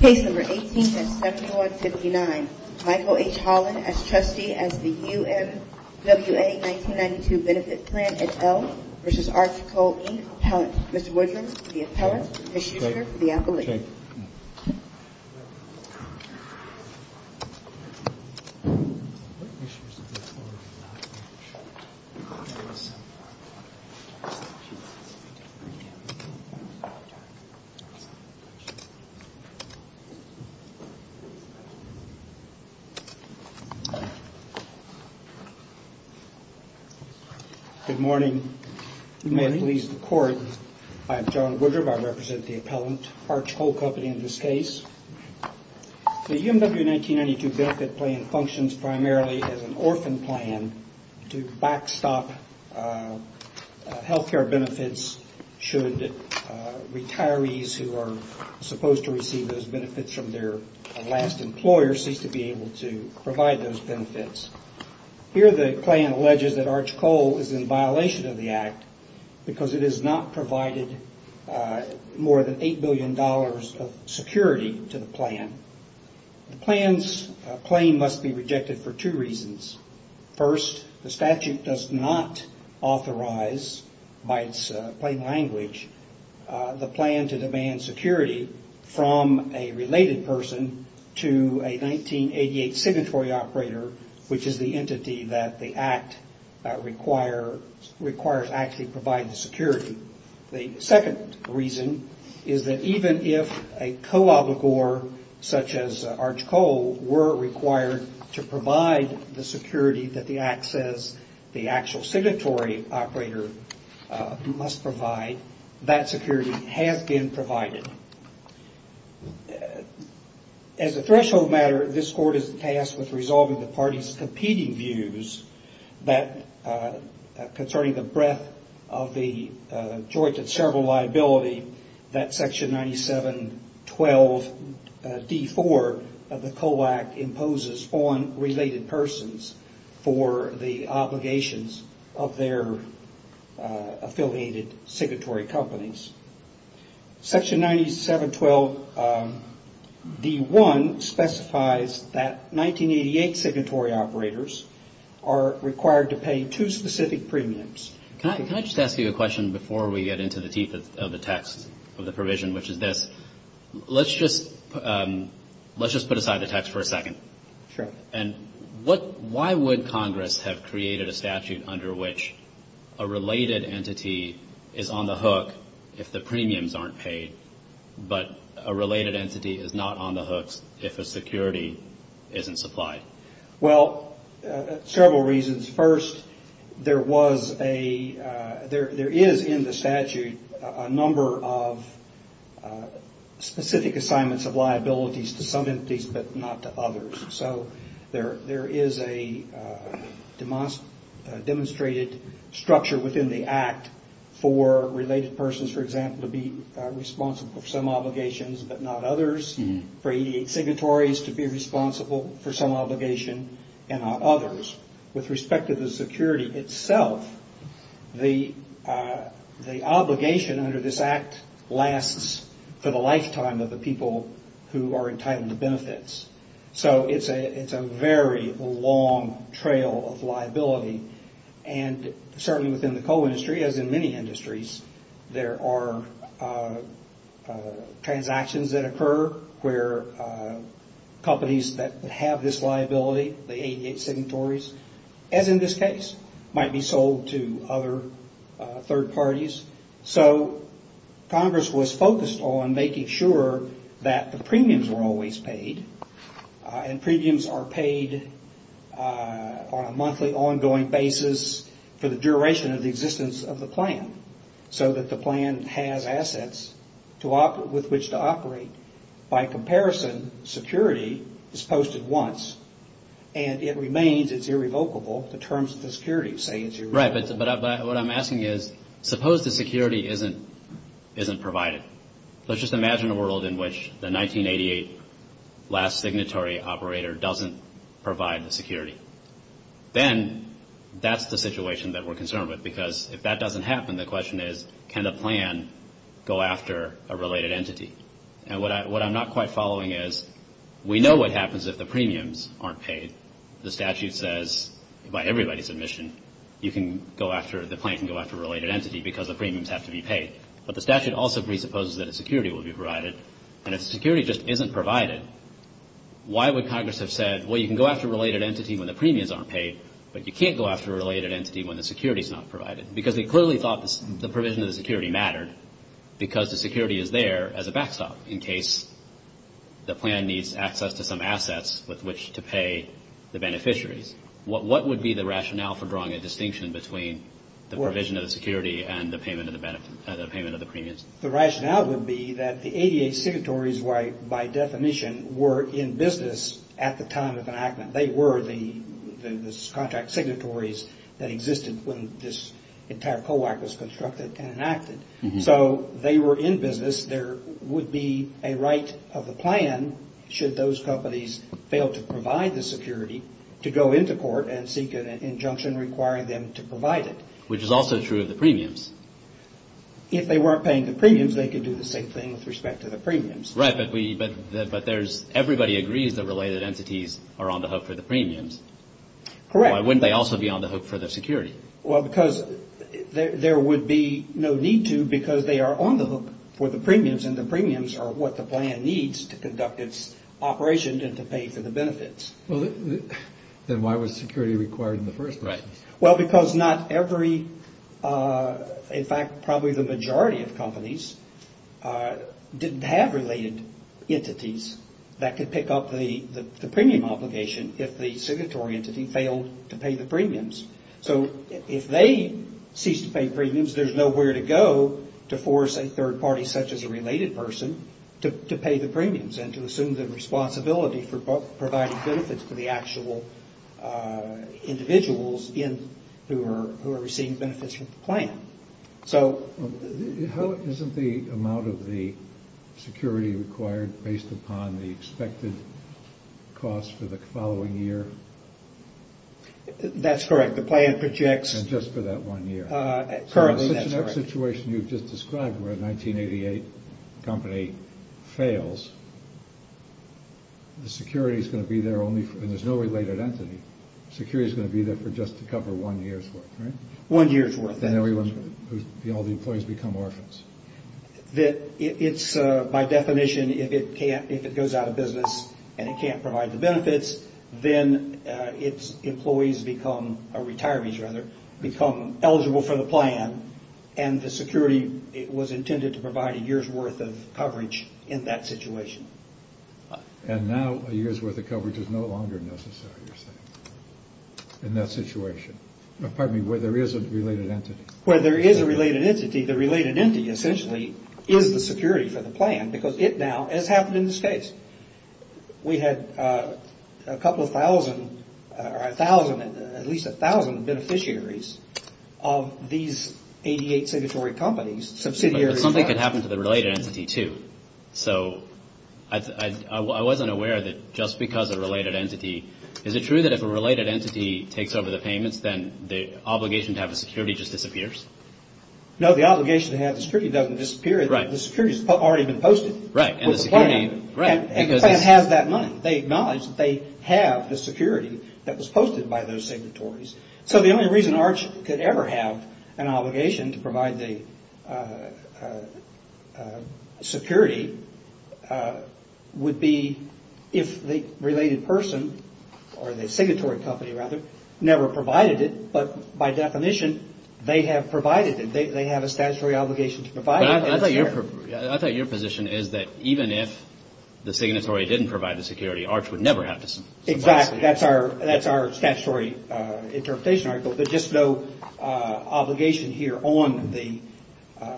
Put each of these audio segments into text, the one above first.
Case number 18-7159. Michael H. Holland as trustee as the U. M. W. A. 1992 Benefit Plan et al. v. Arch Coal, Inc. Appellant. Mr. Woodrum, the appellant. Ms. Shuster, the appellate. Thank you. Good morning. May it please the Court, I'm John Woodrum, I represent the appellant, Arch Coal Company in this case. The U. M. W. 1992 Benefit Plan functions primarily as an orphan plan to backstop health care benefits should retirees who are supposed to receive those benefits from their last employer cease to be able to provide those benefits. Here the plan alleges that Arch Coal is in violation of the act because it has not provided more than eight billion dollars of security to the plan. The plan's claim must be rejected for two reasons. First, the statute does not authorize, by its plain language, the plan to demand security from a related person to a 1988 signatory operator, which is the entity that the act requires to actually provide the security. The second reason is that even if a co-obligor such as Arch Coal were required to provide the security that the act says the actual signatory operator must provide, that security has been provided. As a threshold matter, this Court is tasked with resolving the party's competing views concerning the joint and several liability that Section 9712 D. 4 of the Coal Act imposes on related persons for the obligations of their affiliated signatory companies. Section 9712 D. 1 specifies that before we get into the teeth of the text of the provision, which is this, let's just put aside the text for a second. And why would Congress have created a statute under which a related entity is on the hook if the premiums aren't paid, but a related entity is not on the hooks if a security isn't supplied? Well, several reasons. First, there is in the statute a number of specific assignments of liabilities to some entities, but not to others. So there is a demonstrated structure within the act for related persons, for example, to be responsible for some obligations, but not others. For EDH signatories to be responsible for some obligation and not others. With respect to the security itself, the obligation under this act lasts for the lifetime of the people who are entitled to benefits. So it's a very long trail of liability. And certainly within the coal industry, as in many industries, there are transactions that occur where companies that have this liability, the EDH signatories, as in this case, might be sold to other third parties. So Congress was focused on making sure that the premiums were always paid, and premiums are paid on a monthly basis for the duration of the existence of the plan, so that the plan has assets with which to operate. By comparison, security is posted once, and it remains, it's irrevocable, the terms of the security say it's irrevocable. Right, but what I'm asking is, suppose the security isn't provided. Let's just imagine a world in which the situation that we're concerned with, because if that doesn't happen, the question is, can the plan go after a related entity? And what I'm not quite following is, we know what happens if the premiums aren't paid. The statute says, by everybody's admission, you can go after, the plan can go after a related entity because the premiums have to be paid. But the statute also presupposes that a security will be provided. And if security just isn't provided, why would Congress have said, well, you can go after a related entity when the premiums aren't paid, but you can't go after a related entity when the security's not provided? Because they clearly thought the provision of the security mattered, because the security is there as a backstop in case the plan needs access to some assets with which to pay the beneficiaries. What would be the rationale for drawing a distinction between the provision of the security and the payment of the premiums? The rationale would be that the ADA secretaries, by definition, were in business at the time of enactment. They were the contract signatories that existed when this entire COAC was constructed and enacted. So they were in business. There would be a right of the plan, should those companies fail to provide the security, to go into court and seek an injunction requiring them to provide it. Which is also true of the premiums. If they weren't paying the premiums, they could do the same thing with respect to the premiums. Right, but everybody agrees that related entities are on the hook for the premiums. Correct. Why wouldn't they also be on the hook for the security? Well, because there would be no need to, because they are on the hook for the premiums and the premiums are what the plan needs to conduct its operation and to pay for the benefits. Then why was security required in the first place? Well, because not every, in fact, probably the majority of companies didn't have related entities that could pick up the premium obligation if the signatory entity failed to pay the premiums. So if they ceased to pay premiums, there's nowhere to go to force a third party such as a related person to pay the premiums and to assume the responsibility for providing benefits for the actual individuals How isn't the amount of the security required based upon the expected cost for the following year? That's correct. The plan projects... And just for that one year. Currently, that's correct. All the employees become orphans. By definition, if it goes out of business and it can't provide the benefits, then its employees become, or retirees rather, become eligible for the plan and the security was intended to provide a year's worth of coverage in that situation. And now a year's worth of coverage is no longer necessary, you're saying, in that situation? Pardon me, where there is a related entity. Where there is a related entity, the related entity essentially is the security for the plan because it now, as happened in this case, we had a couple of thousand, or a thousand, at least a thousand beneficiaries of these 88 signatory companies, subsidiaries. But something could happen to the related entity, too. So I wasn't aware that just because a related entity... Is it true that if a related entity takes over the payments, then the obligation to have the security just disappears? No, the obligation to have the security doesn't disappear. The security has already been posted. And the plan has that money. They acknowledge that they have the security that was posted by those signatories. So the only reason ARCH could ever have an obligation to provide the security would be if the related person, or the signatory company rather, never provided it, but by definition they have provided it. They have a statutory obligation to provide it. I thought your position is that even if the signatory didn't provide the security, ARCH would never have to... Exactly. That's our statutory interpretation. There's just no obligation here on the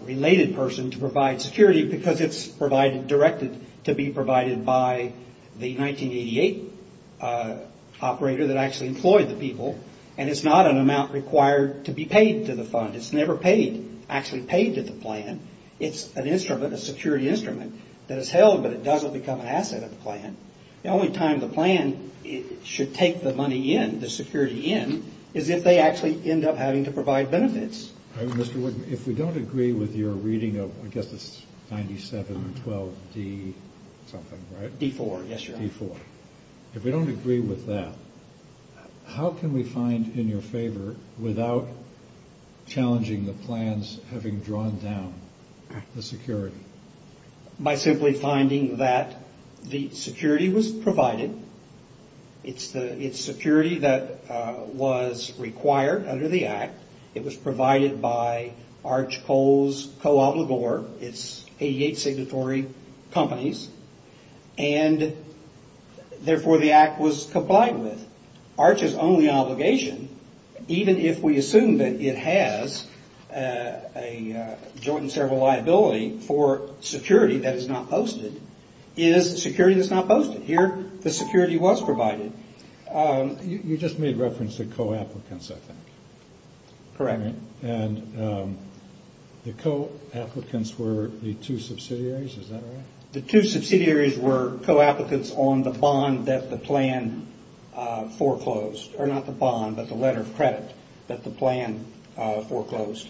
related person to provide security because it's provided, directed to be provided by the 1988 operator that actually employed the people. And it's not an amount required to be paid to the fund. It's never actually paid to the plan. It's an instrument, a security instrument that is held, but it doesn't become an asset at the plan. The only time the plan should take the money in, the security in, is if they actually end up having to provide benefits. If we don't agree with your reading of, I guess it's 9712D something, right? If we don't agree with that, how can we find in your favor without challenging the plans having drawn down the security? By simply finding that the security was provided. It's security that was required under the Act. It was provided by ARCH Coal's co-obligor, it's 88 signatory companies, and therefore the Act was complied with. ARCH's only obligation, even if we assume that it has a joint and several liability for security that is not posted, is security that's not posted. Here the security was provided. You just made reference to co-applicants, I think. The co-applicants were the two subsidiaries, is that right? The two subsidiaries were co-applicants on the bond that the plan foreclosed, or not the bond, but the letter of credit that the plan foreclosed.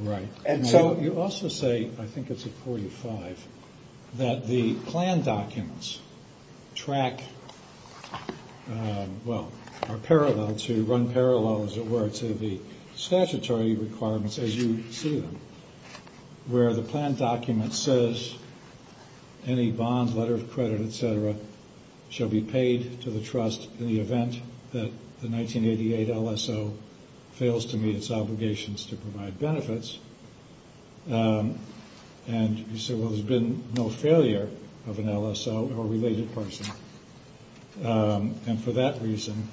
Right. You also say, I think it's at 45, that the plan documents track, well, are parallel, to run parallel, as it were, to the statutory requirements as you see them, where the plan document says any bond, letter of credit, etc., shall be paid to the trust in the event that the 1988 LSO fails to meet its obligations to provide benefits. And you say, well, there's been no failure of an LSO or related person, and for that reason,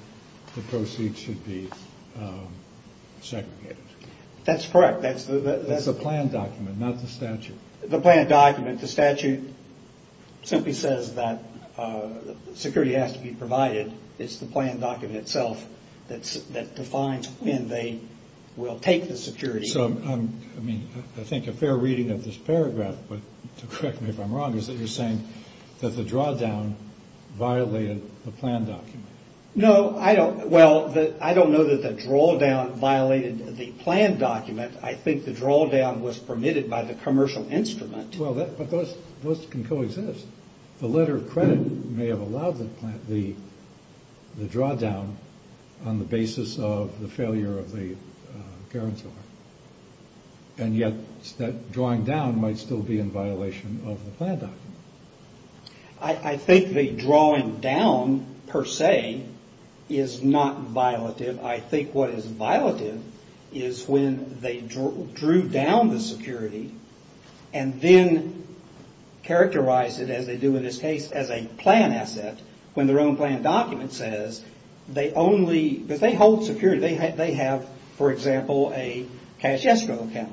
the proceeds should be segregated. That's correct. That's the plan document, not the statute. The plan document, the statute, simply says that security has to be provided. It's the plan document itself that defines when they will take the security. So, I mean, I think a fair reading of this paragraph, but correct me if I'm wrong, is that you're saying that the drawdown violated the plan document. No, I don't. Well, I don't know that the drawdown violated the plan document. I think the drawdown was permitted by the commercial instrument. Well, but those can coexist. The letter of credit may have allowed the drawdown on the basis of the failure of the guarantor. And yet that drawing down might still be in violation of the plan document. I think the drawing down, per se, is not violative. I think what is violative is when they drew down the security and then characterized it, as they do in this case, as a plan asset, when their own plan document says they only, because they hold security. They have, for example, a cash escrow account.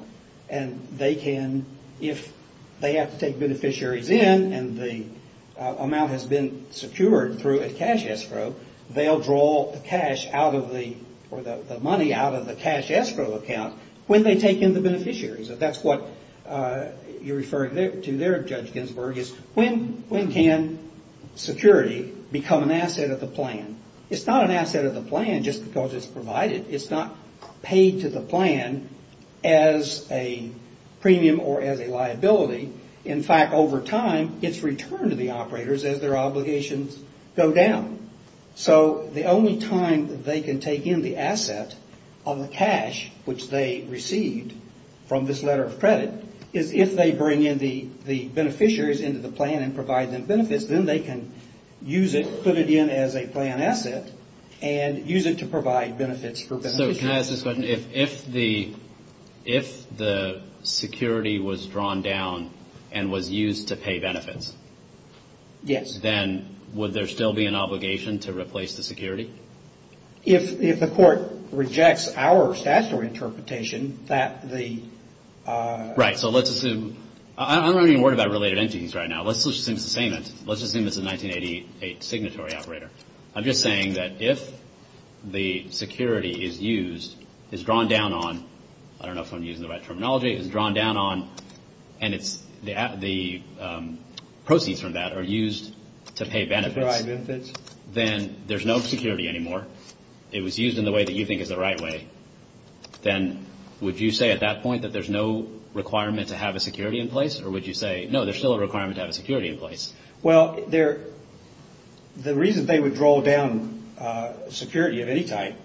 And they can, if they have to take beneficiaries in and the amount has been secured through a cash escrow, they'll draw the cash out of the, or the money out of the cash escrow account when they take in the beneficiaries. That's what you're referring to there, Judge Ginsburg, is when can security become an asset of the plan? It's not an asset of the plan just because it's provided. It's not paid to the plan as a premium or as a liability. In fact, over time, it's returned to the operators as their obligations go down. So the only time that they can take in the asset of the cash, which they received from this letter of credit, is if they bring in the beneficiaries into the plan and provide them benefits. Then they can use it, put it in as a plan asset, and use it to provide benefits for beneficiaries. So can I ask this question? If the security was drawn down and was used to pay benefits, then would there still be an obligation to replace the security? If the court rejects our statutory interpretation, that the... Right, so let's assume, I'm not even worried about related entities right now. Let's just assume it's the same. Let's just assume it's a 1988 signatory operator. I'm just saying that if the security is used, is drawn down on, I don't know if I'm using the right terminology, is drawn down on, and it's, the proceeds from that are used to pay benefits, then there's no security anymore. If it was used in the way that you think is the right way, then would you say at that point that there's no requirement to have a security in place? Or would you say, no, there's still a requirement to have a security in place? Well, the reason they would draw down security of any type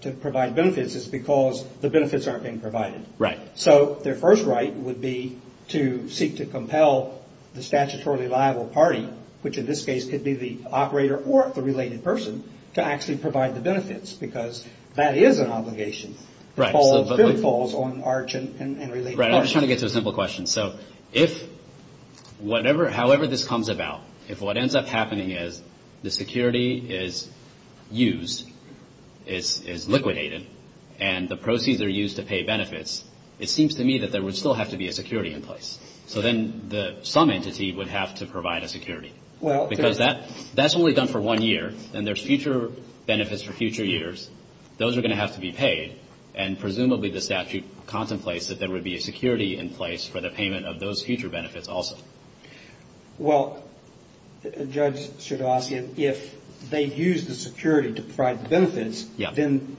to provide benefits is because the benefits aren't being provided. Right. So their first right would be to seek to compel the statutorily liable party, which in this case could be the operator or the related person, to actually provide the benefits. Because that is an obligation. Right. I'm just trying to get to a simple question. So if whatever, however this comes about, if what ends up happening is the security is used, is liquidated, and the proceeds are used to pay benefits, it's still a liability. It seems to me that there would still have to be a security in place. So then some entity would have to provide a security. Because that's only done for one year, and there's future benefits for future years. Those are going to have to be paid, and presumably the statute contemplates that there would be a security in place for the payment of those future benefits also. Well, Judge Sardossian, if they use the security to provide the benefits, then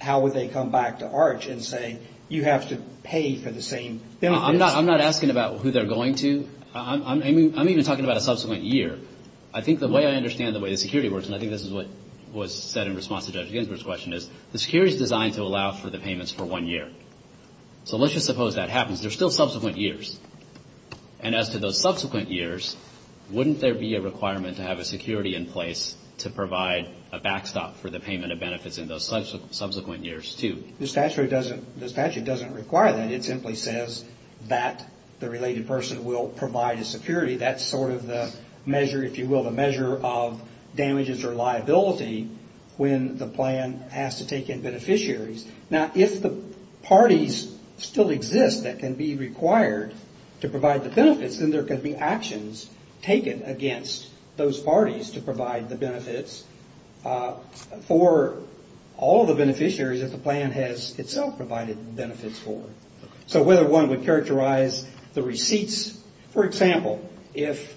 how would they come back to Arch and say, you have to pay the benefits and you have to pay for the same benefits? I'm not asking about who they're going to. I'm even talking about a subsequent year. I think the way I understand the way the security works, and I think this is what was said in response to Judge Ginsburg's question, is the security is designed to allow for the payments for one year. So let's just suppose that happens. They're still subsequent years. And as to those subsequent years, wouldn't there be a requirement to have a security in place to provide a backstop for the payment of benefits in those subsequent years, too? The statute doesn't require that. It simply says that the related person will provide a security. That's sort of the measure, if you will, the measure of damages or liability when the plan has to take in beneficiaries. Now, if the parties still exist that can be required to provide the benefits, then there could be actions taken against those parties to provide the benefits. For all the beneficiaries that the plan has itself provided benefits for. So whether one would characterize the receipts, for example, if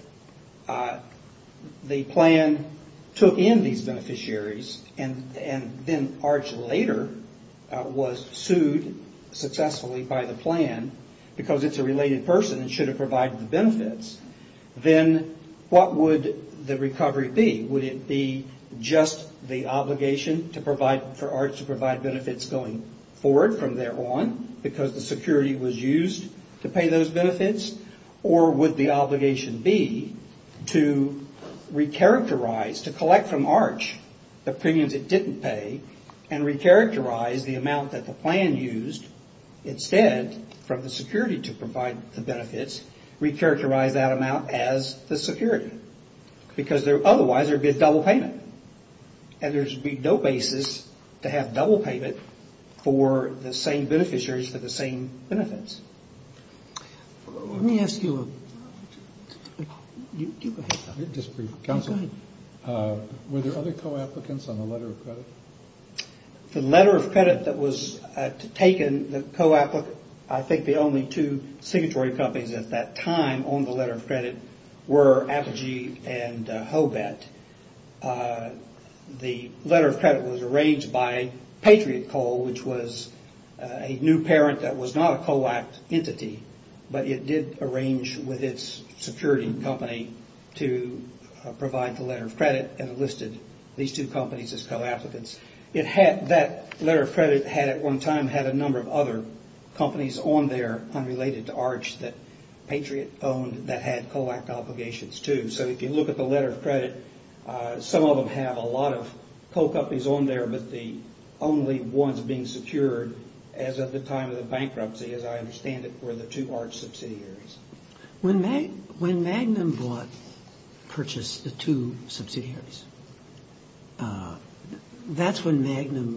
the plan took in these beneficiaries, and then Arch later was sued successfully by the plan because it's a related person and should have provided the benefits, then what would the recovery be? Would it be just the obligation to provide, for Arch to provide benefits going forward from there on because the security was used to pay those benefits? Or would the obligation be to recharacterize, to collect from Arch the premiums it didn't pay and recharacterize the amount that the plan used instead from the security to provide the benefits, recharacterize that amount as the security? Because otherwise there would be a double payment. And there would be no basis to have double payment for the same beneficiaries for the same benefits. Let me ask you a question. Were there other co-applicants on the letter of credit? The letter of credit that was taken, the co-applicant, I think the only two signatory companies at that time on the letter of credit were Apogee and Hobet. The letter of credit was arranged by Patriot Coal, which was a new parent that was not a co-act entity, but it did arrange with its security company to provide the letter of credit and listed these two companies as co-applicants. That letter of credit at one time had a number of other companies on there unrelated to Arch that Patriot owned that had co-act obligations, too. So if you look at the letter of credit, some of them have a lot of co-companies on there, but the only ones being secured as of the time of the bankruptcy, as I understand it, were the two Arch subsidiaries. When Magnum bought, purchased the two subsidiaries, that's the only co-applicant on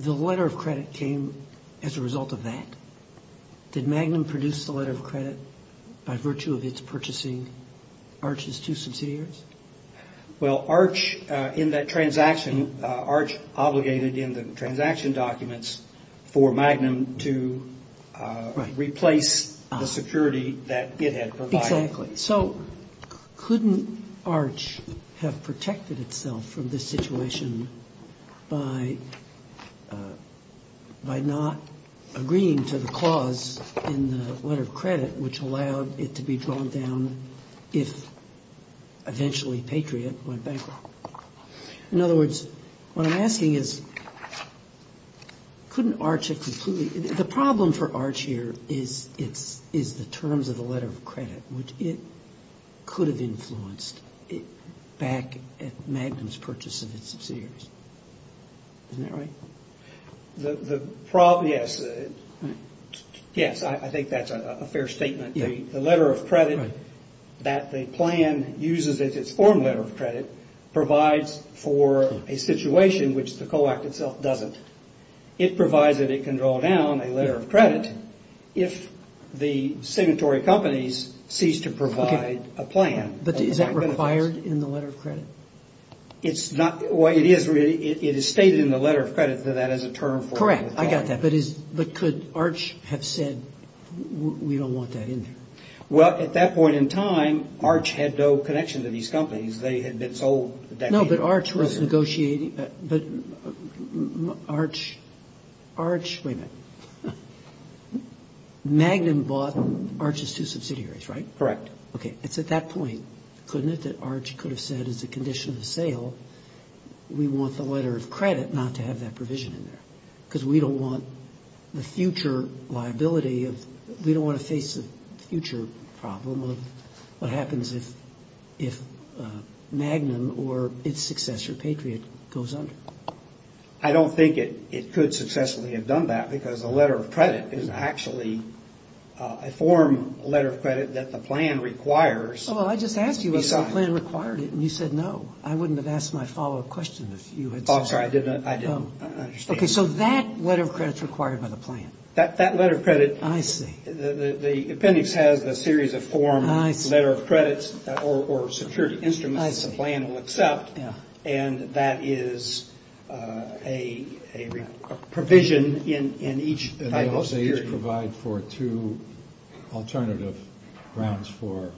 the letter of credit that was on the letter of credit. And that's the only co-applicant that was on the letter of credit that was on the letter of credit. And that's when Magnum, the letter of credit came as a result of that. Did Magnum produce the letter of credit by virtue of its purchasing Arch's two subsidiaries? Well, Arch, in that transaction, Arch obligated in the transaction documents for Magnum to replace the security that it had provided. Exactly. So couldn't Arch have protected itself from this situation by not agreeing to the clause in the letter of credit which allowed it to be drawn down if eventually Patriot went bankrupt? In other words, what I'm asking is, couldn't Arch have completely The problem for Arch here is the terms of the letter of credit, which it could have influenced back at Magnum's purchase of its subsidiaries. Isn't that right? The problem, yes. Yes, I think that's a fair statement. The letter of credit that the plan uses as its form letter of credit provides for a situation which the co-act itself doesn't. It provides that it can draw down, but it can't draw down. A letter of credit, if the signatory companies cease to provide a plan. But is that required in the letter of credit? It's not. Well, it is really. It is stated in the letter of credit that that is a term for. Correct. I got that. But could Arch have said we don't want that in there? Well, at that point in time, Arch had no connection to these companies. They had been sold. No, but Arch was negotiating. But Arch, wait a minute. Magnum bought Arch's two subsidiaries, right? Correct. Okay. It's at that point, couldn't it, that Arch could have said, as a condition of the sale, we want the letter of credit not to have that provision in there? Because we don't want the future liability of, we don't want to face the future problem of what happens if Magnum or its successor, Patriot, goes under. I don't think it could successfully have done that, because a letter of credit is actually a form letter of credit that the plan requires. Oh, well, I just asked you if the plan required it, and you said no. I wouldn't have asked my follow-up question if you had said no. Okay, so that letter of credit is required by the plan. That letter of credit, the appendix has a series of form letter of credits or security instruments that the plan will accept. And that is a provision in each type of security. And they also each provide for two alternative grounds for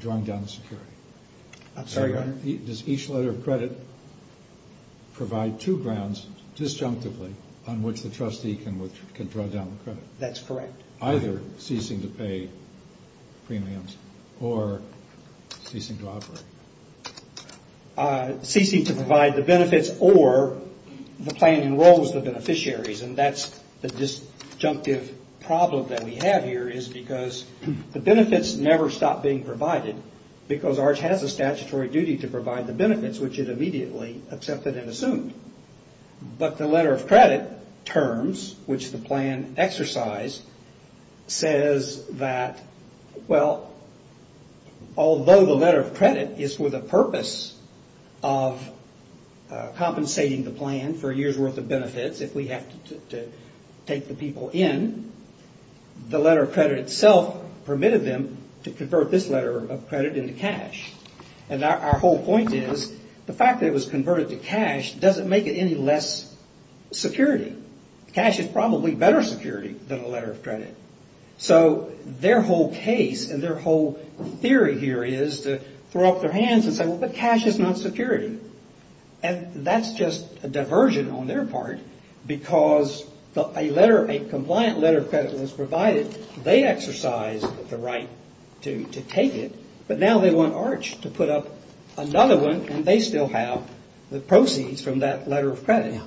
drawing down the security. I'm sorry, go ahead. Does each letter of credit provide two grounds, disjunctively, on which the trustee can draw down the credit? That's correct. Either ceasing to pay premiums or ceasing to operate. Ceasing to provide the benefits or the plan enrolls the beneficiaries. And that's the disjunctive problem that we have here is because the benefits never stop being provided, because ours has a statutory duty to provide the benefits, which it immediately accepted and assumed. But the letter of credit terms, which the plan exercised, says that, well, although the letter of credit is for the purpose of compensating the plan for a year's worth of benefits, if we have to take the people in, the letter of credit itself permitted them to convert this letter of credit into cash. And our whole point is the fact that it was converted to cash doesn't make it any less security. Cash is probably better security than a letter of credit. So their whole case and their whole theory here is to throw up their hands and say, well, but cash is not security. And that's just a diversion on their part, because a letter, a compliant letter of credit was provided. They exercised the right to take it. But now they want Arch to put up another one, and they still have the proceeds from that letter of credit.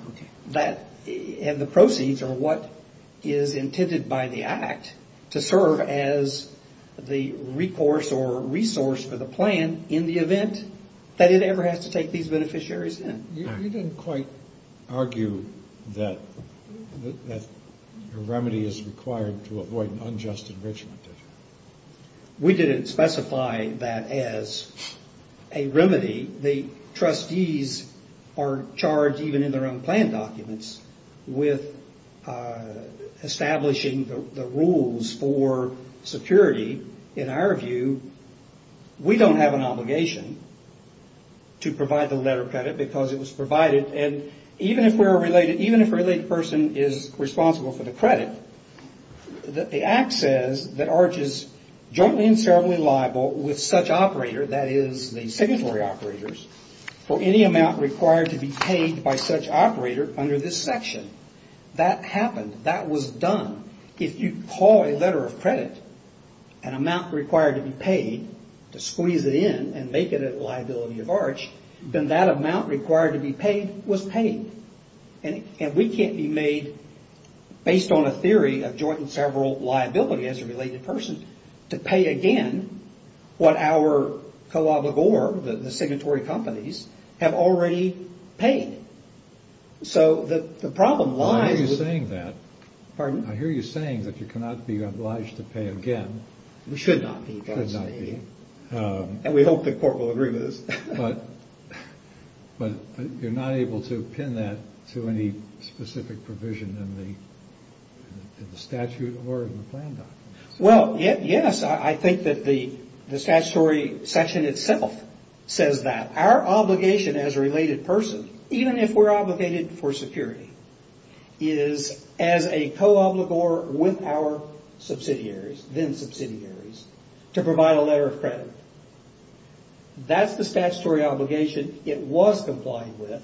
And the proceeds are what is intended by the act to serve as the recourse or resource for the plan in the event that it ever has to take these beneficiaries in. You didn't quite argue that a remedy is required to avoid an unjust enrichment, did you? We didn't specify that as a remedy. The trustees are charged, even in their own plan documents, with establishing the rules for security. In our view, we don't have an obligation to provide the letter of credit because it was provided. And even if we're a related, even if a related person is responsible for the credit, the act says that Arch is entitled to the letter of credit. Jointly and severally liable with such operator, that is, the signatory operators, for any amount required to be paid by such operator under this section. That happened. That was done. If you call a letter of credit, an amount required to be paid, to squeeze it in and make it a liability of Arch, then that amount required to be paid was paid. And we can't be made, based on a theory of joint and several liability as a related person, to be made a liability of Arch. We cannot be obliged to pay again what our co-obligor, the signatory companies, have already paid. So the problem lies... I hear you saying that. Pardon? I hear you saying that you cannot be obliged to pay again. We should not be. We should not be. And we hope the court will agree with us. But you're not able to pin that to any specific provision in the statute or in the plan documents. Well, yes. I think that the statutory section itself says that. Our obligation as a related person, even if we're obligated for security, is as a co-obligor with our subsidiaries, then subsidiaries, to provide a letter of credit. That's the statutory obligation. It was complied with.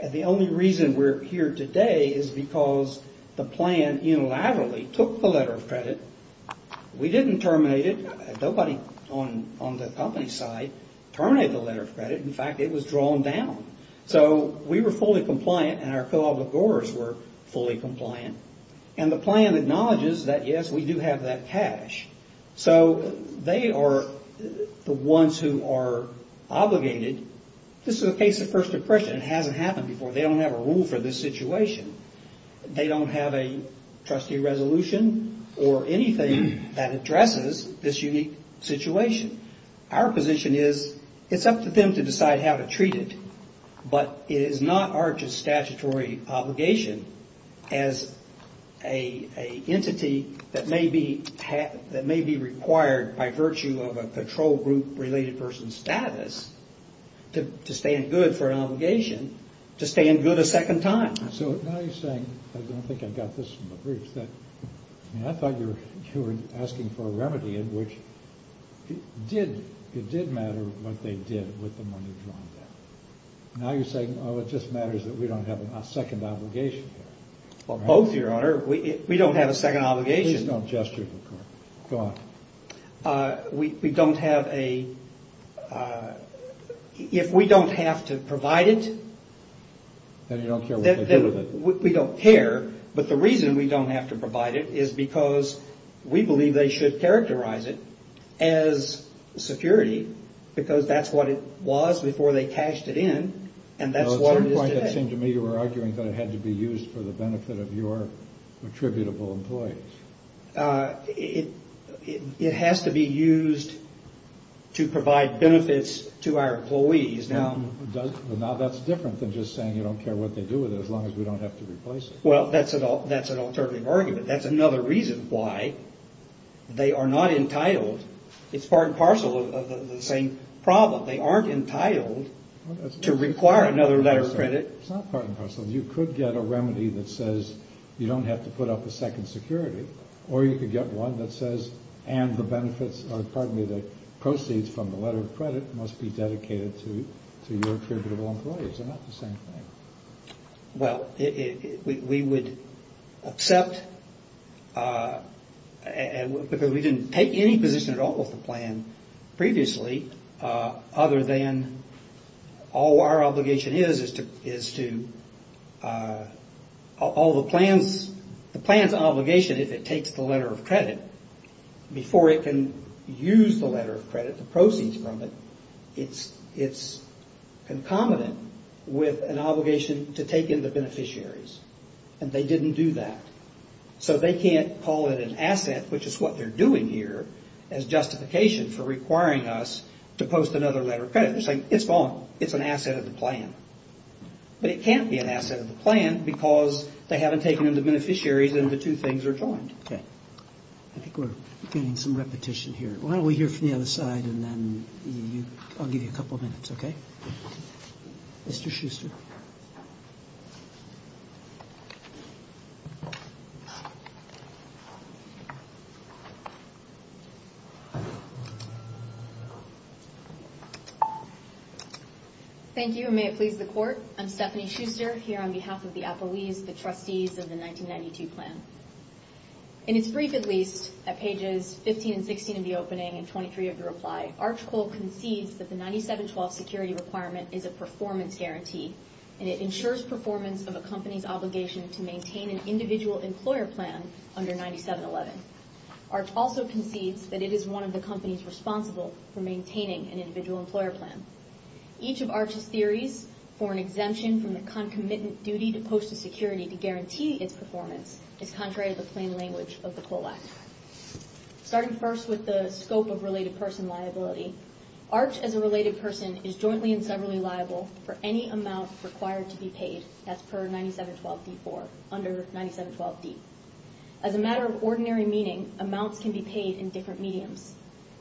And the only reason we're here today is because the plan unilaterally took the letter of credit. We didn't terminate it. Nobody on the company side terminated the letter of credit. In fact, it was drawn down. So we were fully compliant and our co-obligors were fully compliant. And the plan acknowledges that, yes, we do have that cash. So they are the ones who are obligated. This is a case of First Depression. It hasn't happened before. They don't have a rule for this situation. They don't have a trustee resolution or anything that addresses this unique situation. Our position is it's up to them to decide how to treat it, but it is not our statutory obligation as an entity that may be required by virtue of a control group related person status to stand good for an obligation, to stand good a second time. I don't think I got this from the briefs. I thought you were asking for a remedy in which it did matter what they did with the money drawn down. Now you're saying it just matters that we don't have a second obligation here. Both, Your Honor. We don't have a second obligation. We don't have a... If we don't have to provide it... Then you don't care what they do with it. We don't care, but the reason we don't have to provide it is because we believe they should characterize it as security because that's what it was before they cashed it in, and that's what it is today. At some point it seemed to me you were arguing that it had to be used for the benefit of your attributable employees. It has to be used to provide benefits to our employees. Now that's different than just saying you don't care what they do with it as long as we don't have to replace it. That's an alternative argument. That's another reason why they are not entitled. It's part and parcel of the same problem. They aren't entitled to require another letter of credit. It's not part and parcel. You could get a remedy that says you don't have to put up a second security, or you could get one that says and the proceeds from the letter of credit must be dedicated to your attributable employees. They're not the same thing. Well, we would accept because we didn't take any position at all with the plan previously other than all our obligation is to all the plan's obligation, if it takes the letter of credit, before it can use the letter of credit, the proceeds from it, it's concomitant with an obligation to take in the beneficiaries. And they didn't do that. So they can't call it an asset, which is what they're doing here, as justification for requiring us to post another letter of credit. They're saying it's gone. It's an asset of the plan. But it can't be an asset of the plan because they haven't taken in the beneficiaries and the two things are joined. I think we're getting some repetition here. Why don't we hear from the other side and then I'll give you a couple of minutes, okay? Mr. Schuster. Thank you. Thank you and may it please the court. I'm Stephanie Schuster here on behalf of the Applebee's, the trustees of the 1992 plan. In its brief, at least, at pages 15 and 16 of the opening and 23 of the reply, Arch Cole concedes that the 9712 security requirement is a performance guarantee and it ensures performance of a company's obligation to maintain an individual employer plan under 9711. Arch also concedes that it is one of the companies responsible for maintaining an individual employer plan. Each of Arch's theories for an exemption from the concomitant duty to post a security to guarantee its performance is contrary to the plain language of the Cole Act. Starting first with the scope of related person liability, Arch, as a related person, is jointly and severally liable for any amount required to be paid that's per 9712 D4, under 9712 D. As a matter of ordinary meaning, amounts can be paid in different mediums.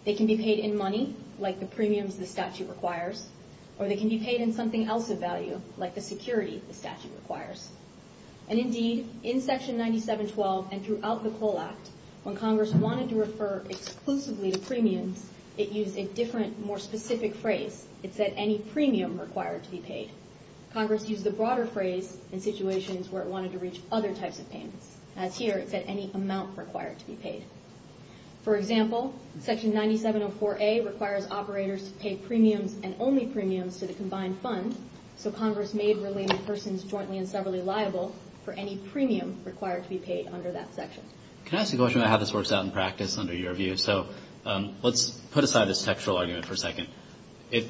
They can be paid in money, like the premiums the statute requires, or they can be paid in something else of value, like the security the statute requires. And indeed, in section 9712 and throughout the Cole Act, when Congress wanted to refer exclusively to premiums, it used a different, more specific phrase. It said any premium required to be paid. Congress used the broader phrase in situations where it wanted to reach other types of payments. As here, it said any amount required to be paid. For example, section 9704A requires operators to pay premiums and only premiums to the combined fund, so Congress made related persons jointly and severally liable for any premium required to be paid under that section. Can I ask a question about how this works out in practice under your view? So let's put aside this textual argument for a second.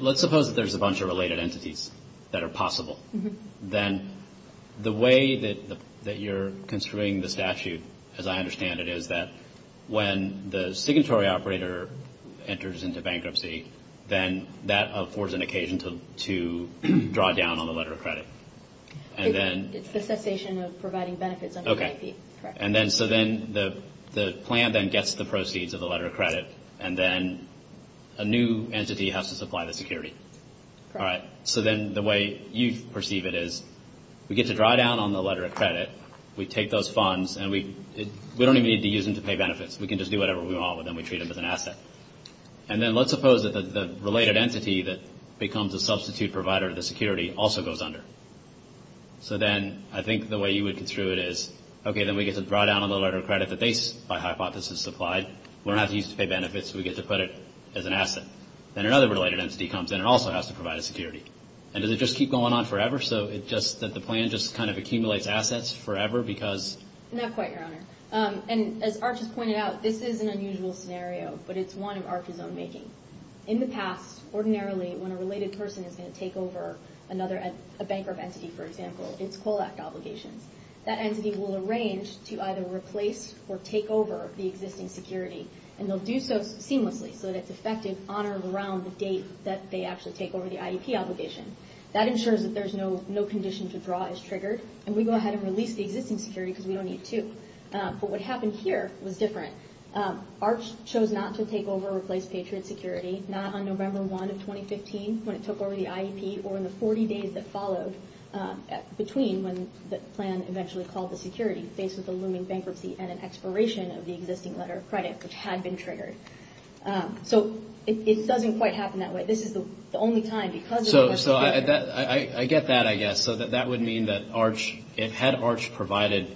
Let's suppose that there's a bunch of related entities that are possible. Then the way that you're construing the statute, as I understand it, is that when the signatory operator enters into bankruptcy, then that affords an occasion to draw down on the letter of credit. And then... It's the cessation of providing benefits under the IP. Okay. Correct. And then so then the plan then gets the proceeds of the letter of credit and then a new entity has to supply the security. Correct. So then the way you perceive it is we get to draw down on the letter of credit. We take those funds and we don't even need to use them to pay benefits. We can just do whatever we want with them. We treat them as an asset. And then let's suppose that the related entity that becomes a substitute provider of the security also goes under. So then I think the way you would construe it is, okay, then we get to draw down on the letter of credit that they, by hypothesis, supplied. We don't have to use it to pay benefits. We get to put it as an asset. Then another related entity comes in and also has to provide a security. And does it just keep going on forever so that the plan just kind of accumulates assets forever because... Not quite, Your Honor. And as Arch has pointed out, this is an unusual scenario, but it's one of Arch's own making. In the past, ordinarily, when a related person is going to take over a bankrupt entity, for example, it's COLAC obligations. That entity will arrange to either replace or take over the existing security. And they'll do so seamlessly so that it's effective on or around the date that they actually take over the IEP obligation. That ensures that there's no condition to draw is triggered. And we go ahead and release the existing security because we don't need to. But what happened here was different. Arch chose not to take over or replace Patriot Security not on November 1 of 2015 when it took over the IEP or in the 40 days that followed between when the plan eventually called the security, faced with a looming bankruptcy and an expiration of the existing letter of credit which had been triggered. So it doesn't quite happen that way. This is the only time because... So I get that, I guess. So that would mean that Arch, had Arch provided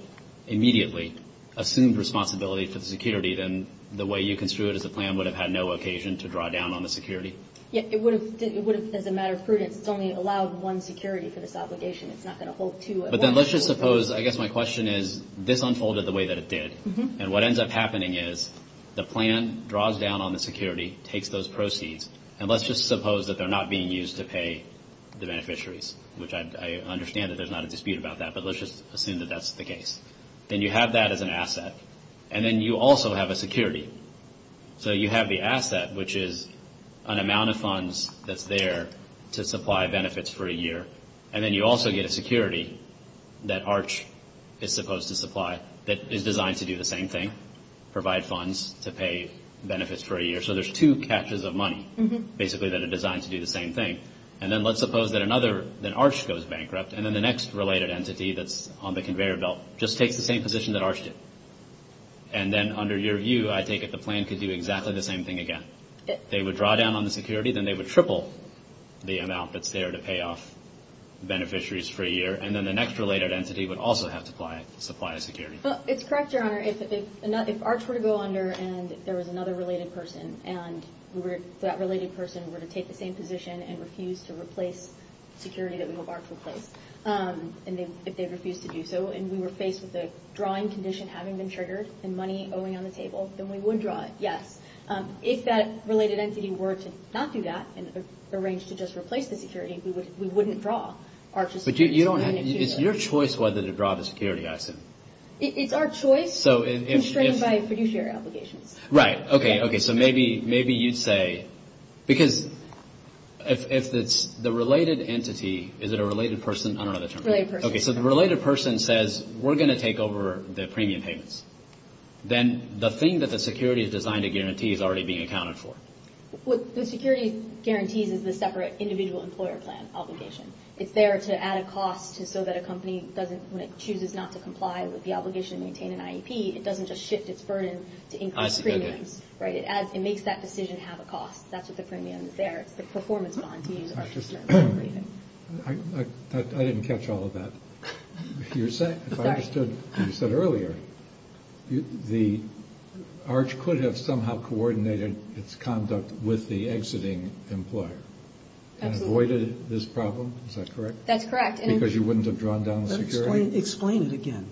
immediately assumed responsibility for the security, then the way you construed it as a plan would have had no occasion to draw down on the security? Yeah, it would have as a matter of prudence. It's only allowed one security for this obligation. It's not going to hold two. But then let's just suppose, I guess my question is, this unfolded the way that it did. And what ends up happening is the plan draws down on the security, takes those proceeds, and let's just suppose that they're not being used to pay the beneficiaries. Which I understand that there's not a dispute about that. But let's just assume that that's the case. Then you have that as an asset. And then you also have a security. So you have the asset which is an amount of funds that's there to supply benefits for a year. And then you also get a security that Arch is supposed to supply that is designed to do the same thing. Provide funds to pay benefits for a year. So there's two catches of money basically that are designed to do the same thing. And then let's suppose that another, that Arch goes bankrupt. And then the next related entity that's on the conveyor belt just takes the same position that Arch did. And then under your view, I take it the plan could do exactly the same thing again. They would draw down on the security. Then they would triple the amount that's there to pay off beneficiaries for a year. And then the next related entity would also have to supply a security. It's correct, Your Honor. If Arch were to go under and there was another related person and that related person were to take the same position and refuse to replace security that we hope Arch replaced. If they refused to do so and we were faced with the drawing condition having been triggered and money going on the table, then we would draw it, yes. If that related entity were to not do that and arrange to just replace the security, we wouldn't draw Arch's security. But you don't have, it's your choice whether to draw the security action. It's our choice constrained by fiduciary obligations. Right, okay, okay. So maybe you'd say, because if it's the related entity, is it a related person? I don't know the term. Related person. Okay, so the related person says we're going to take over the premium payments. Then the thing that the security is designed to guarantee is already being accounted for. What the security guarantees is the separate individual employer plan obligation. It's there to add a cost so that a company doesn't, when it chooses not to comply with the obligation to maintain an IEP, it doesn't just shift its burden to increase premiums. I see, okay. Right, it makes that decision have a cost. That's what the premium is there. It's the performance bond. I didn't catch all of that. If I understood what you said earlier, the Arch could have somehow coordinated its conduct with the exiting employer and avoided this problem? Is that correct? That's correct. Because you wouldn't have drawn down the security? Explain it again.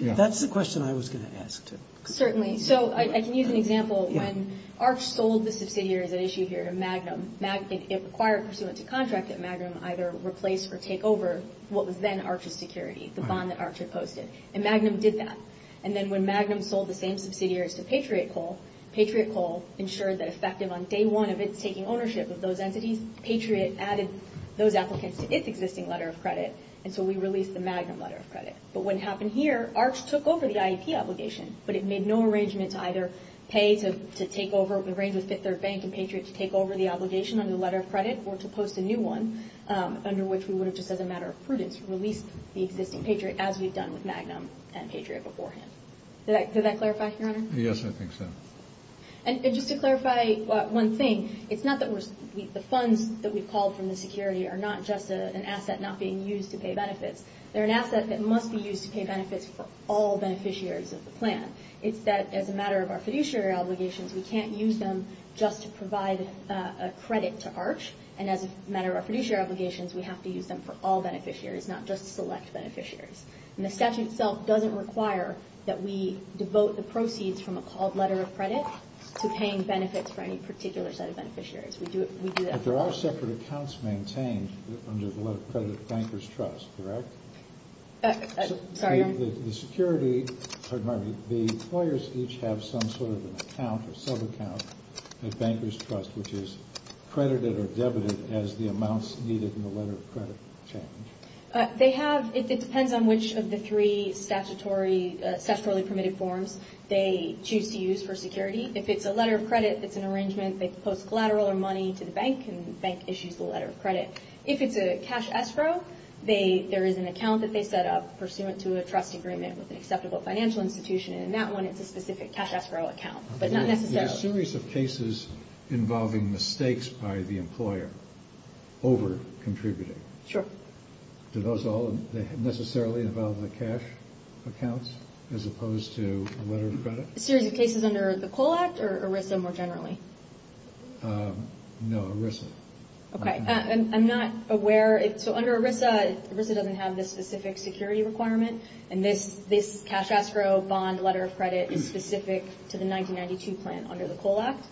That's the question I was going to ask. Certainly. So I can use an example. When Arch sold the subsidiaries at issue here to Magnum, it required pursuant to contract that Magnum either replace or replace security, the bond that Arch had posted. And Magnum did that. And then when Magnum sold the same subsidiaries to Patriot Coal, Patriot Coal ensured that effective on day one of its taking ownership of those entities, Patriot added those applicants to its existing letter of credit. And so we released the Magnum letter of credit. But what happened here, Arch took over the IEP obligation, but it made no arrangement to either pay to take over, arrange with Fifth Third Bank and Patriot to take over the obligation under the letter of credit or to post a new one under which we would have just as a matter of prudence released the existing Patriot as we've done with Magnum and Patriot beforehand. Did that clarify, Your Honor? Yes, I think so. And just to clarify one thing, it's not that the funds that we've called from the security are not just an asset not being used to pay benefits. They're an asset that must be used to pay benefits for all beneficiaries of the plan. It's that as a matter of our fiduciary obligations, we can't use them just to provide a credit to Arch. And as a matter of our fiduciary obligations, we have to use them for all beneficiaries, not just select beneficiaries. And the statute itself doesn't require that we devote the proceeds from a called letter of credit to paying benefits for any particular set of beneficiaries. We do that for all. But there are separate accounts maintained under the letter of credit at Bankers Trust, correct? Sorry, Your Honor? The lawyers each have some sort of an account or sub-account at Bankers Trust which is their debit as the amounts needed in the letter of credit change. They have. It depends on which of the three statutorily permitted forms they choose to use for security. If it's a letter of credit it's an arrangement. They post collateral or money to the bank and the bank issues the letter of credit. If it's a cash escrow, there is an account that they set up pursuant to a trust agreement with an acceptable financial institution. And in that one it's a specific cash escrow account, but not necessarily. There's a series of cases involving mistakes by the employer over contributing. Sure. Do those all necessarily involve the cash accounts as opposed to a letter of credit? A series of cases under the Cole Act or ERISA more generally? No, ERISA. Okay. I'm not aware so under ERISA, ERISA doesn't have this specific security requirement and this cash escrow bond letter of credit is specific to the 1992 plan under the Cole Act.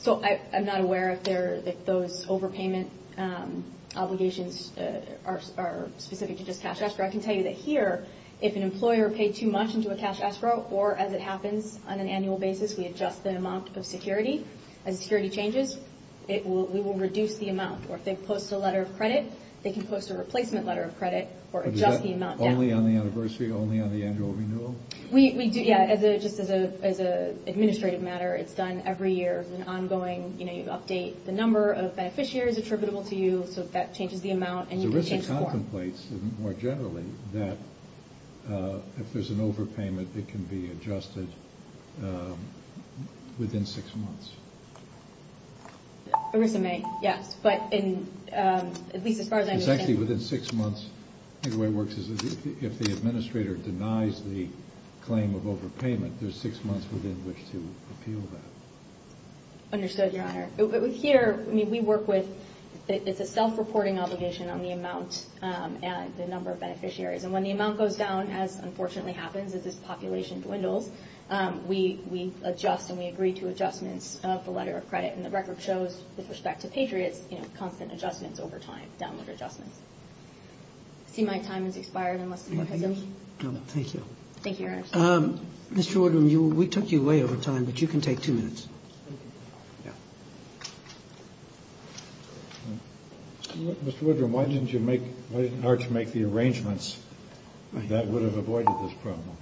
So I'm not aware if those overpayment obligations are specific to just cash escrow. I can tell you that here, if an employer paid too much into a cash escrow or as it happens on an annual basis, we adjust the amount of security. As security changes, we will reduce the amount or if they post a letter of credit, they can post a replacement letter of credit or adjust the amount. Only on the anniversary? Only on the annual renewal? We do, yeah, just as an administrative matter, it's done every year. It's an ongoing, you know, you update the number of beneficiaries attributable to you so that changes the amount and you can change the form. ERISA contemplates, more generally, that if there's an overpayment, it can be adjusted within six months. ERISA may, yes, but at least as far as I understand. Exactly, within six months, the way it works is if the administrator denies the claim of overpayment, there's six months within which to appeal that. Understood, Your Honor. Here, we work with, it's a self-reporting obligation on the amount and the number of beneficiaries and when the amount goes down as unfortunately happens as this population dwindles, we adjust and we agree to adjustments of the letter of credit and the record shows with respect to Patriots, you know, constant adjustments over time, download adjustments. I see my time has expired. No, no, thank you. Thank you, Your Honor. Mr. Woodrum, we took you away over time, but you can take two minutes. Mr. Woodrum, why didn't you make, why didn't ARCH make the arrangements that would have avoided this problem?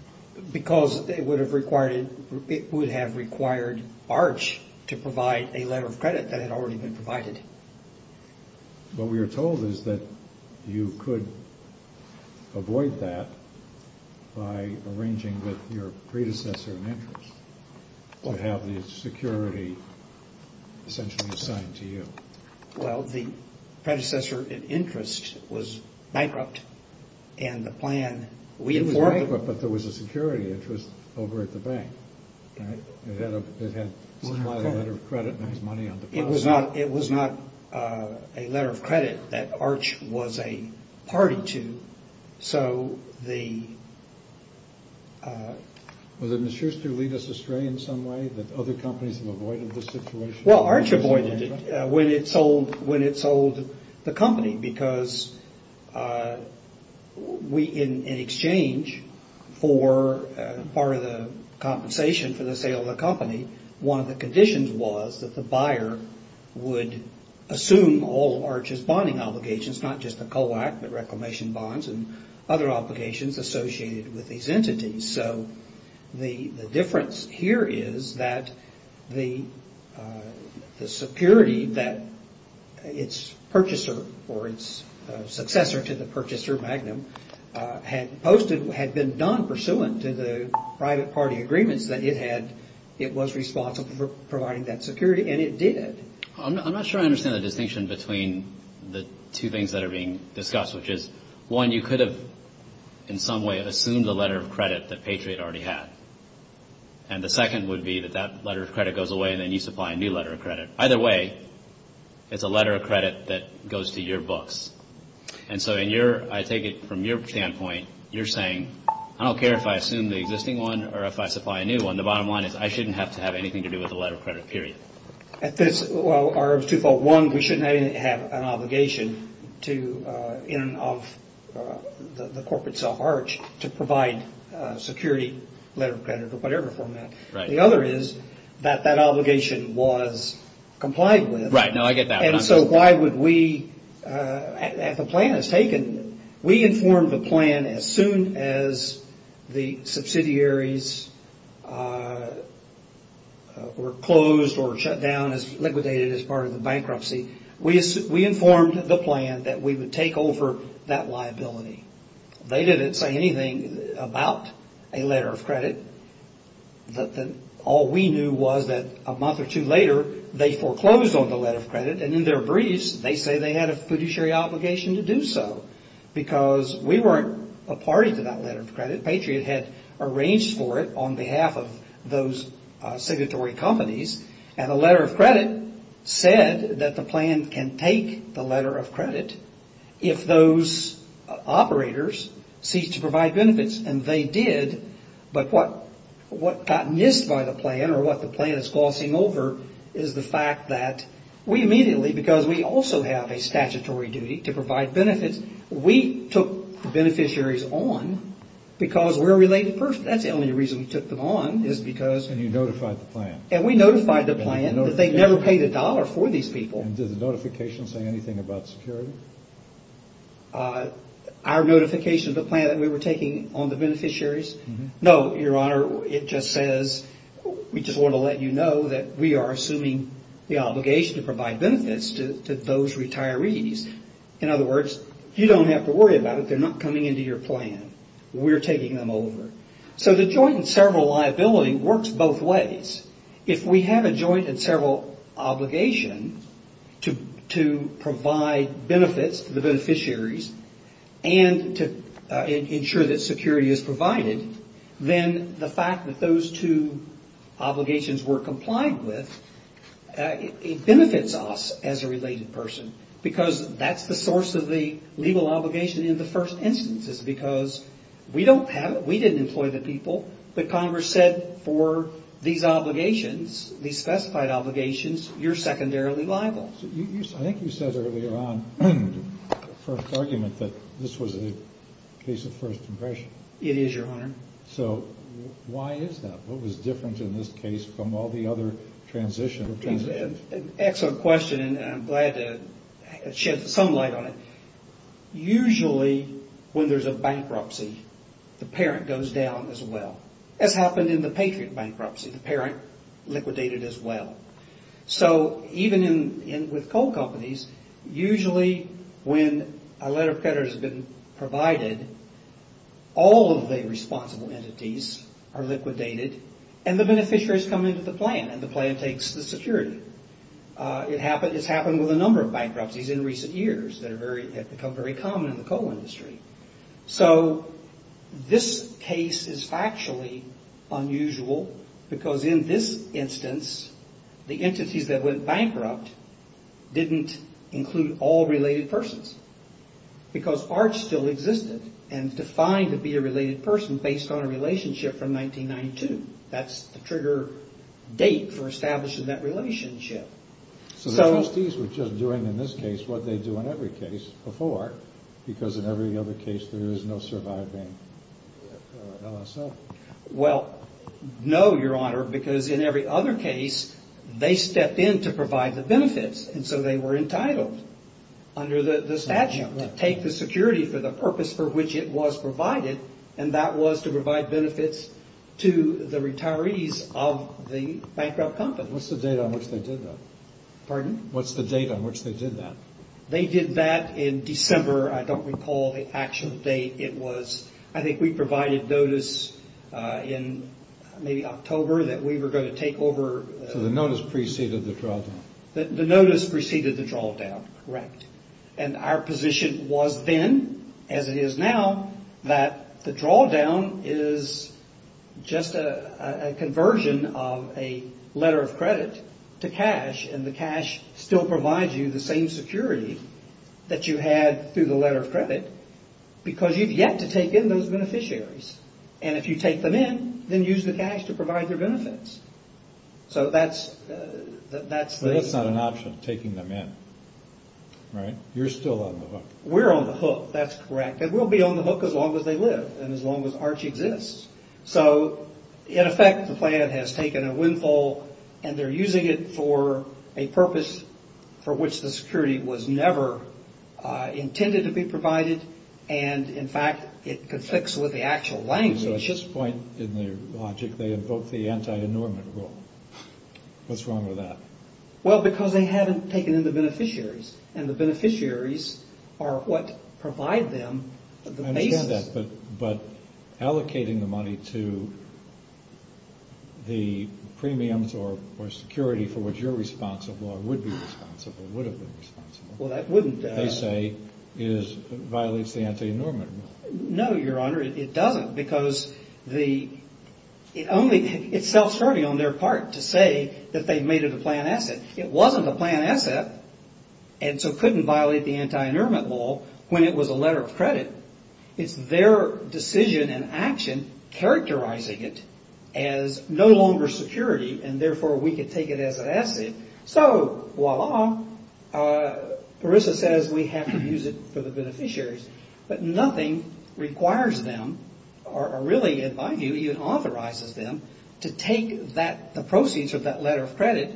Because it would have required, it would have required ARCH to provide a letter of credit that had already been provided. What we are told is that you could avoid that by arranging with your predecessor in interest to have the security essentially assigned to you. Well, the predecessor in interest was bankrupt and the plan we informed... It was bankrupt, but there was a security interest over at the bank. It had a letter of credit It was not a letter of credit that ARCH was a party to, so the Was it in some way that other companies have avoided this situation? Well, ARCH avoided it when it sold the company because we, in exchange for part of the compensation for the sale of the company, one of the conditions was that the buyer would assume all of ARCH's bonding obligations, not just the COAC, but reclamation bonds and other obligations associated with these entities. So the difference here is that the security that its purchaser or its successor to the purchaser, Magnum, had posted, had been done pursuant to the private party agreements that it had, it was responsible for providing that security, and it did. I'm not sure I understand the distinction between the two things that are being discussed, which is, one, you could have in some way assumed a letter of credit that Patriot already had. And the second would be that that letter of credit goes away and then you supply a new letter of credit. Either way, it's a letter of credit that goes to your books. And so I take it from your standpoint, you're saying, I don't care if I assume the existing one or if I supply a new one, the bottom line is I shouldn't have to have anything to do with the letter of credit, period. We shouldn't have an obligation of the corporate self-ARCH to provide security, letter of credit, or whatever from that. The other is that that obligation was complied with. And so why would we if a plan is taken, we inform the plan as soon as the subsidiaries were closed or shut down, liquidated as part of the bankruptcy, we informed the plan that we would take over that liability. They didn't say anything about a letter of credit. All we knew was that a month or two later, they foreclosed on the letter of credit and in their briefs, they say they had a fiduciary obligation to do so. Because we weren't a party to that letter of credit, Patriot had arranged for it on behalf of those signatory companies and the letter of credit said that the plan can take the letter of credit if those operators cease to provide benefits. And they did, but what got missed by the plan or what the plan is glossing over is the fact that we immediately, because we also have a statutory duty to provide benefits, we took the beneficiaries on because we're a related person. That's the only reason we took them on is because And you notified the plan. And we notified the plan that they never paid a dollar for these people. And did the notification say anything about security? Our notification of the plan that we were taking on the beneficiaries? No, your honor, it just says, we just want to let you know that we are assuming the obligation to provide benefits to those retirees. In other words, you don't have to worry about it. They're not coming into your plan. We're taking them over. So the joint and several liability works both ways. If we have a joint and several obligation to provide benefits to the beneficiaries and to ensure that security is provided, then the fact that those two obligations were complied with benefits us as a related person because that's the source of the legal obligation in the first instance is because we don't have it. We didn't employ the people. But Congress said for these obligations, these specified obligations, you're secondarily liable. I think you said earlier on in the first argument that this was a case of first impression. It is, your honor. So why is that? What was different in this case from all the other transitions? Excellent question and I'm glad to shed some light on it. Usually when there's a bankruptcy, the parent goes down as well. That's happened in the Patriot bankruptcy. The parent liquidated as well. So even with coal companies, usually when a letter of credit has been provided, all of the responsible entities are liquidated and the beneficiaries come into the plan and the plan takes the security. It's happened with a number of bankruptcies in recent years that have become very common in the coal industry. This case is factually unusual because in this instance, the entities that went bankrupt didn't include all related persons because ARCH still existed and defined to be a related person based on that's the trigger date for establishing that relationship. So the trustees were just doing in this case what they do in every case before because in every other case there is no surviving LSO? Well, no, your honor. Because in every other case, they stepped in to provide the benefits and so they were entitled under the statute to take the security for the purpose for which it was provided and that was to provide for the retirees of the bankrupt company. What's the date on which they did that? Pardon? What's the date on which they did that? They did that in December. I don't recall the actual date. I think we provided notice in maybe October that we were going to take over. So the notice preceded the drawdown? The notice preceded the drawdown, correct. And our position was then, as it is now, that the drawdown is just a conversion of a letter of credit to cash and the cash still provides you the same security that you had through the letter of credit because you've yet to take in those beneficiaries. And if you take them in, then use the cash to provide their benefits. But that's not an option, taking them in, right? You're still on the hook. We're on the hook, that's correct. And we'll be on the hook as long as they live and as long as ARCH exists. So in effect, the plan has taken a windfall and they're using it for a purpose for which the security was never intended to be provided and, in fact, it conflicts with the actual language. So at this point in their logic, they invoke the anti-annulment rule. What's wrong with that? Well, because they haven't taken in the beneficiaries and the beneficiaries are what provide them the basis. I understand that, but allocating the money to the premiums or security for which you're responsible or would be responsible, would have been responsible, they say violates the anti-annulment rule. No, Your Honor, it doesn't because it's self-serving on their part to say that they've made it a plan asset. It wasn't a plan asset and so couldn't violate the anti-annulment rule when it was a letter of credit. It's their decision and action characterizing it as no longer security and therefore we can take it as an asset. So, voila, Parisa says we have to use it for the beneficiaries, but nothing requires them or really, in my view, even authorizes them to take the proceeds of that letter of credit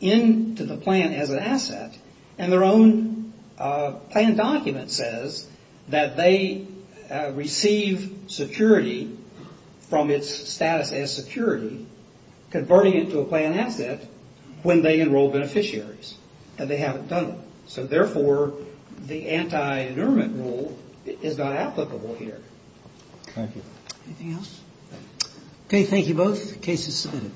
into the plan as an asset and their own plan document says that they receive security from its status as security, converting it to a plan asset when they enroll beneficiaries and they haven't done it. So, therefore, the anti-annulment rule is not applicable here. Thank you. Anything else? Okay, thank you both. The case is submitted.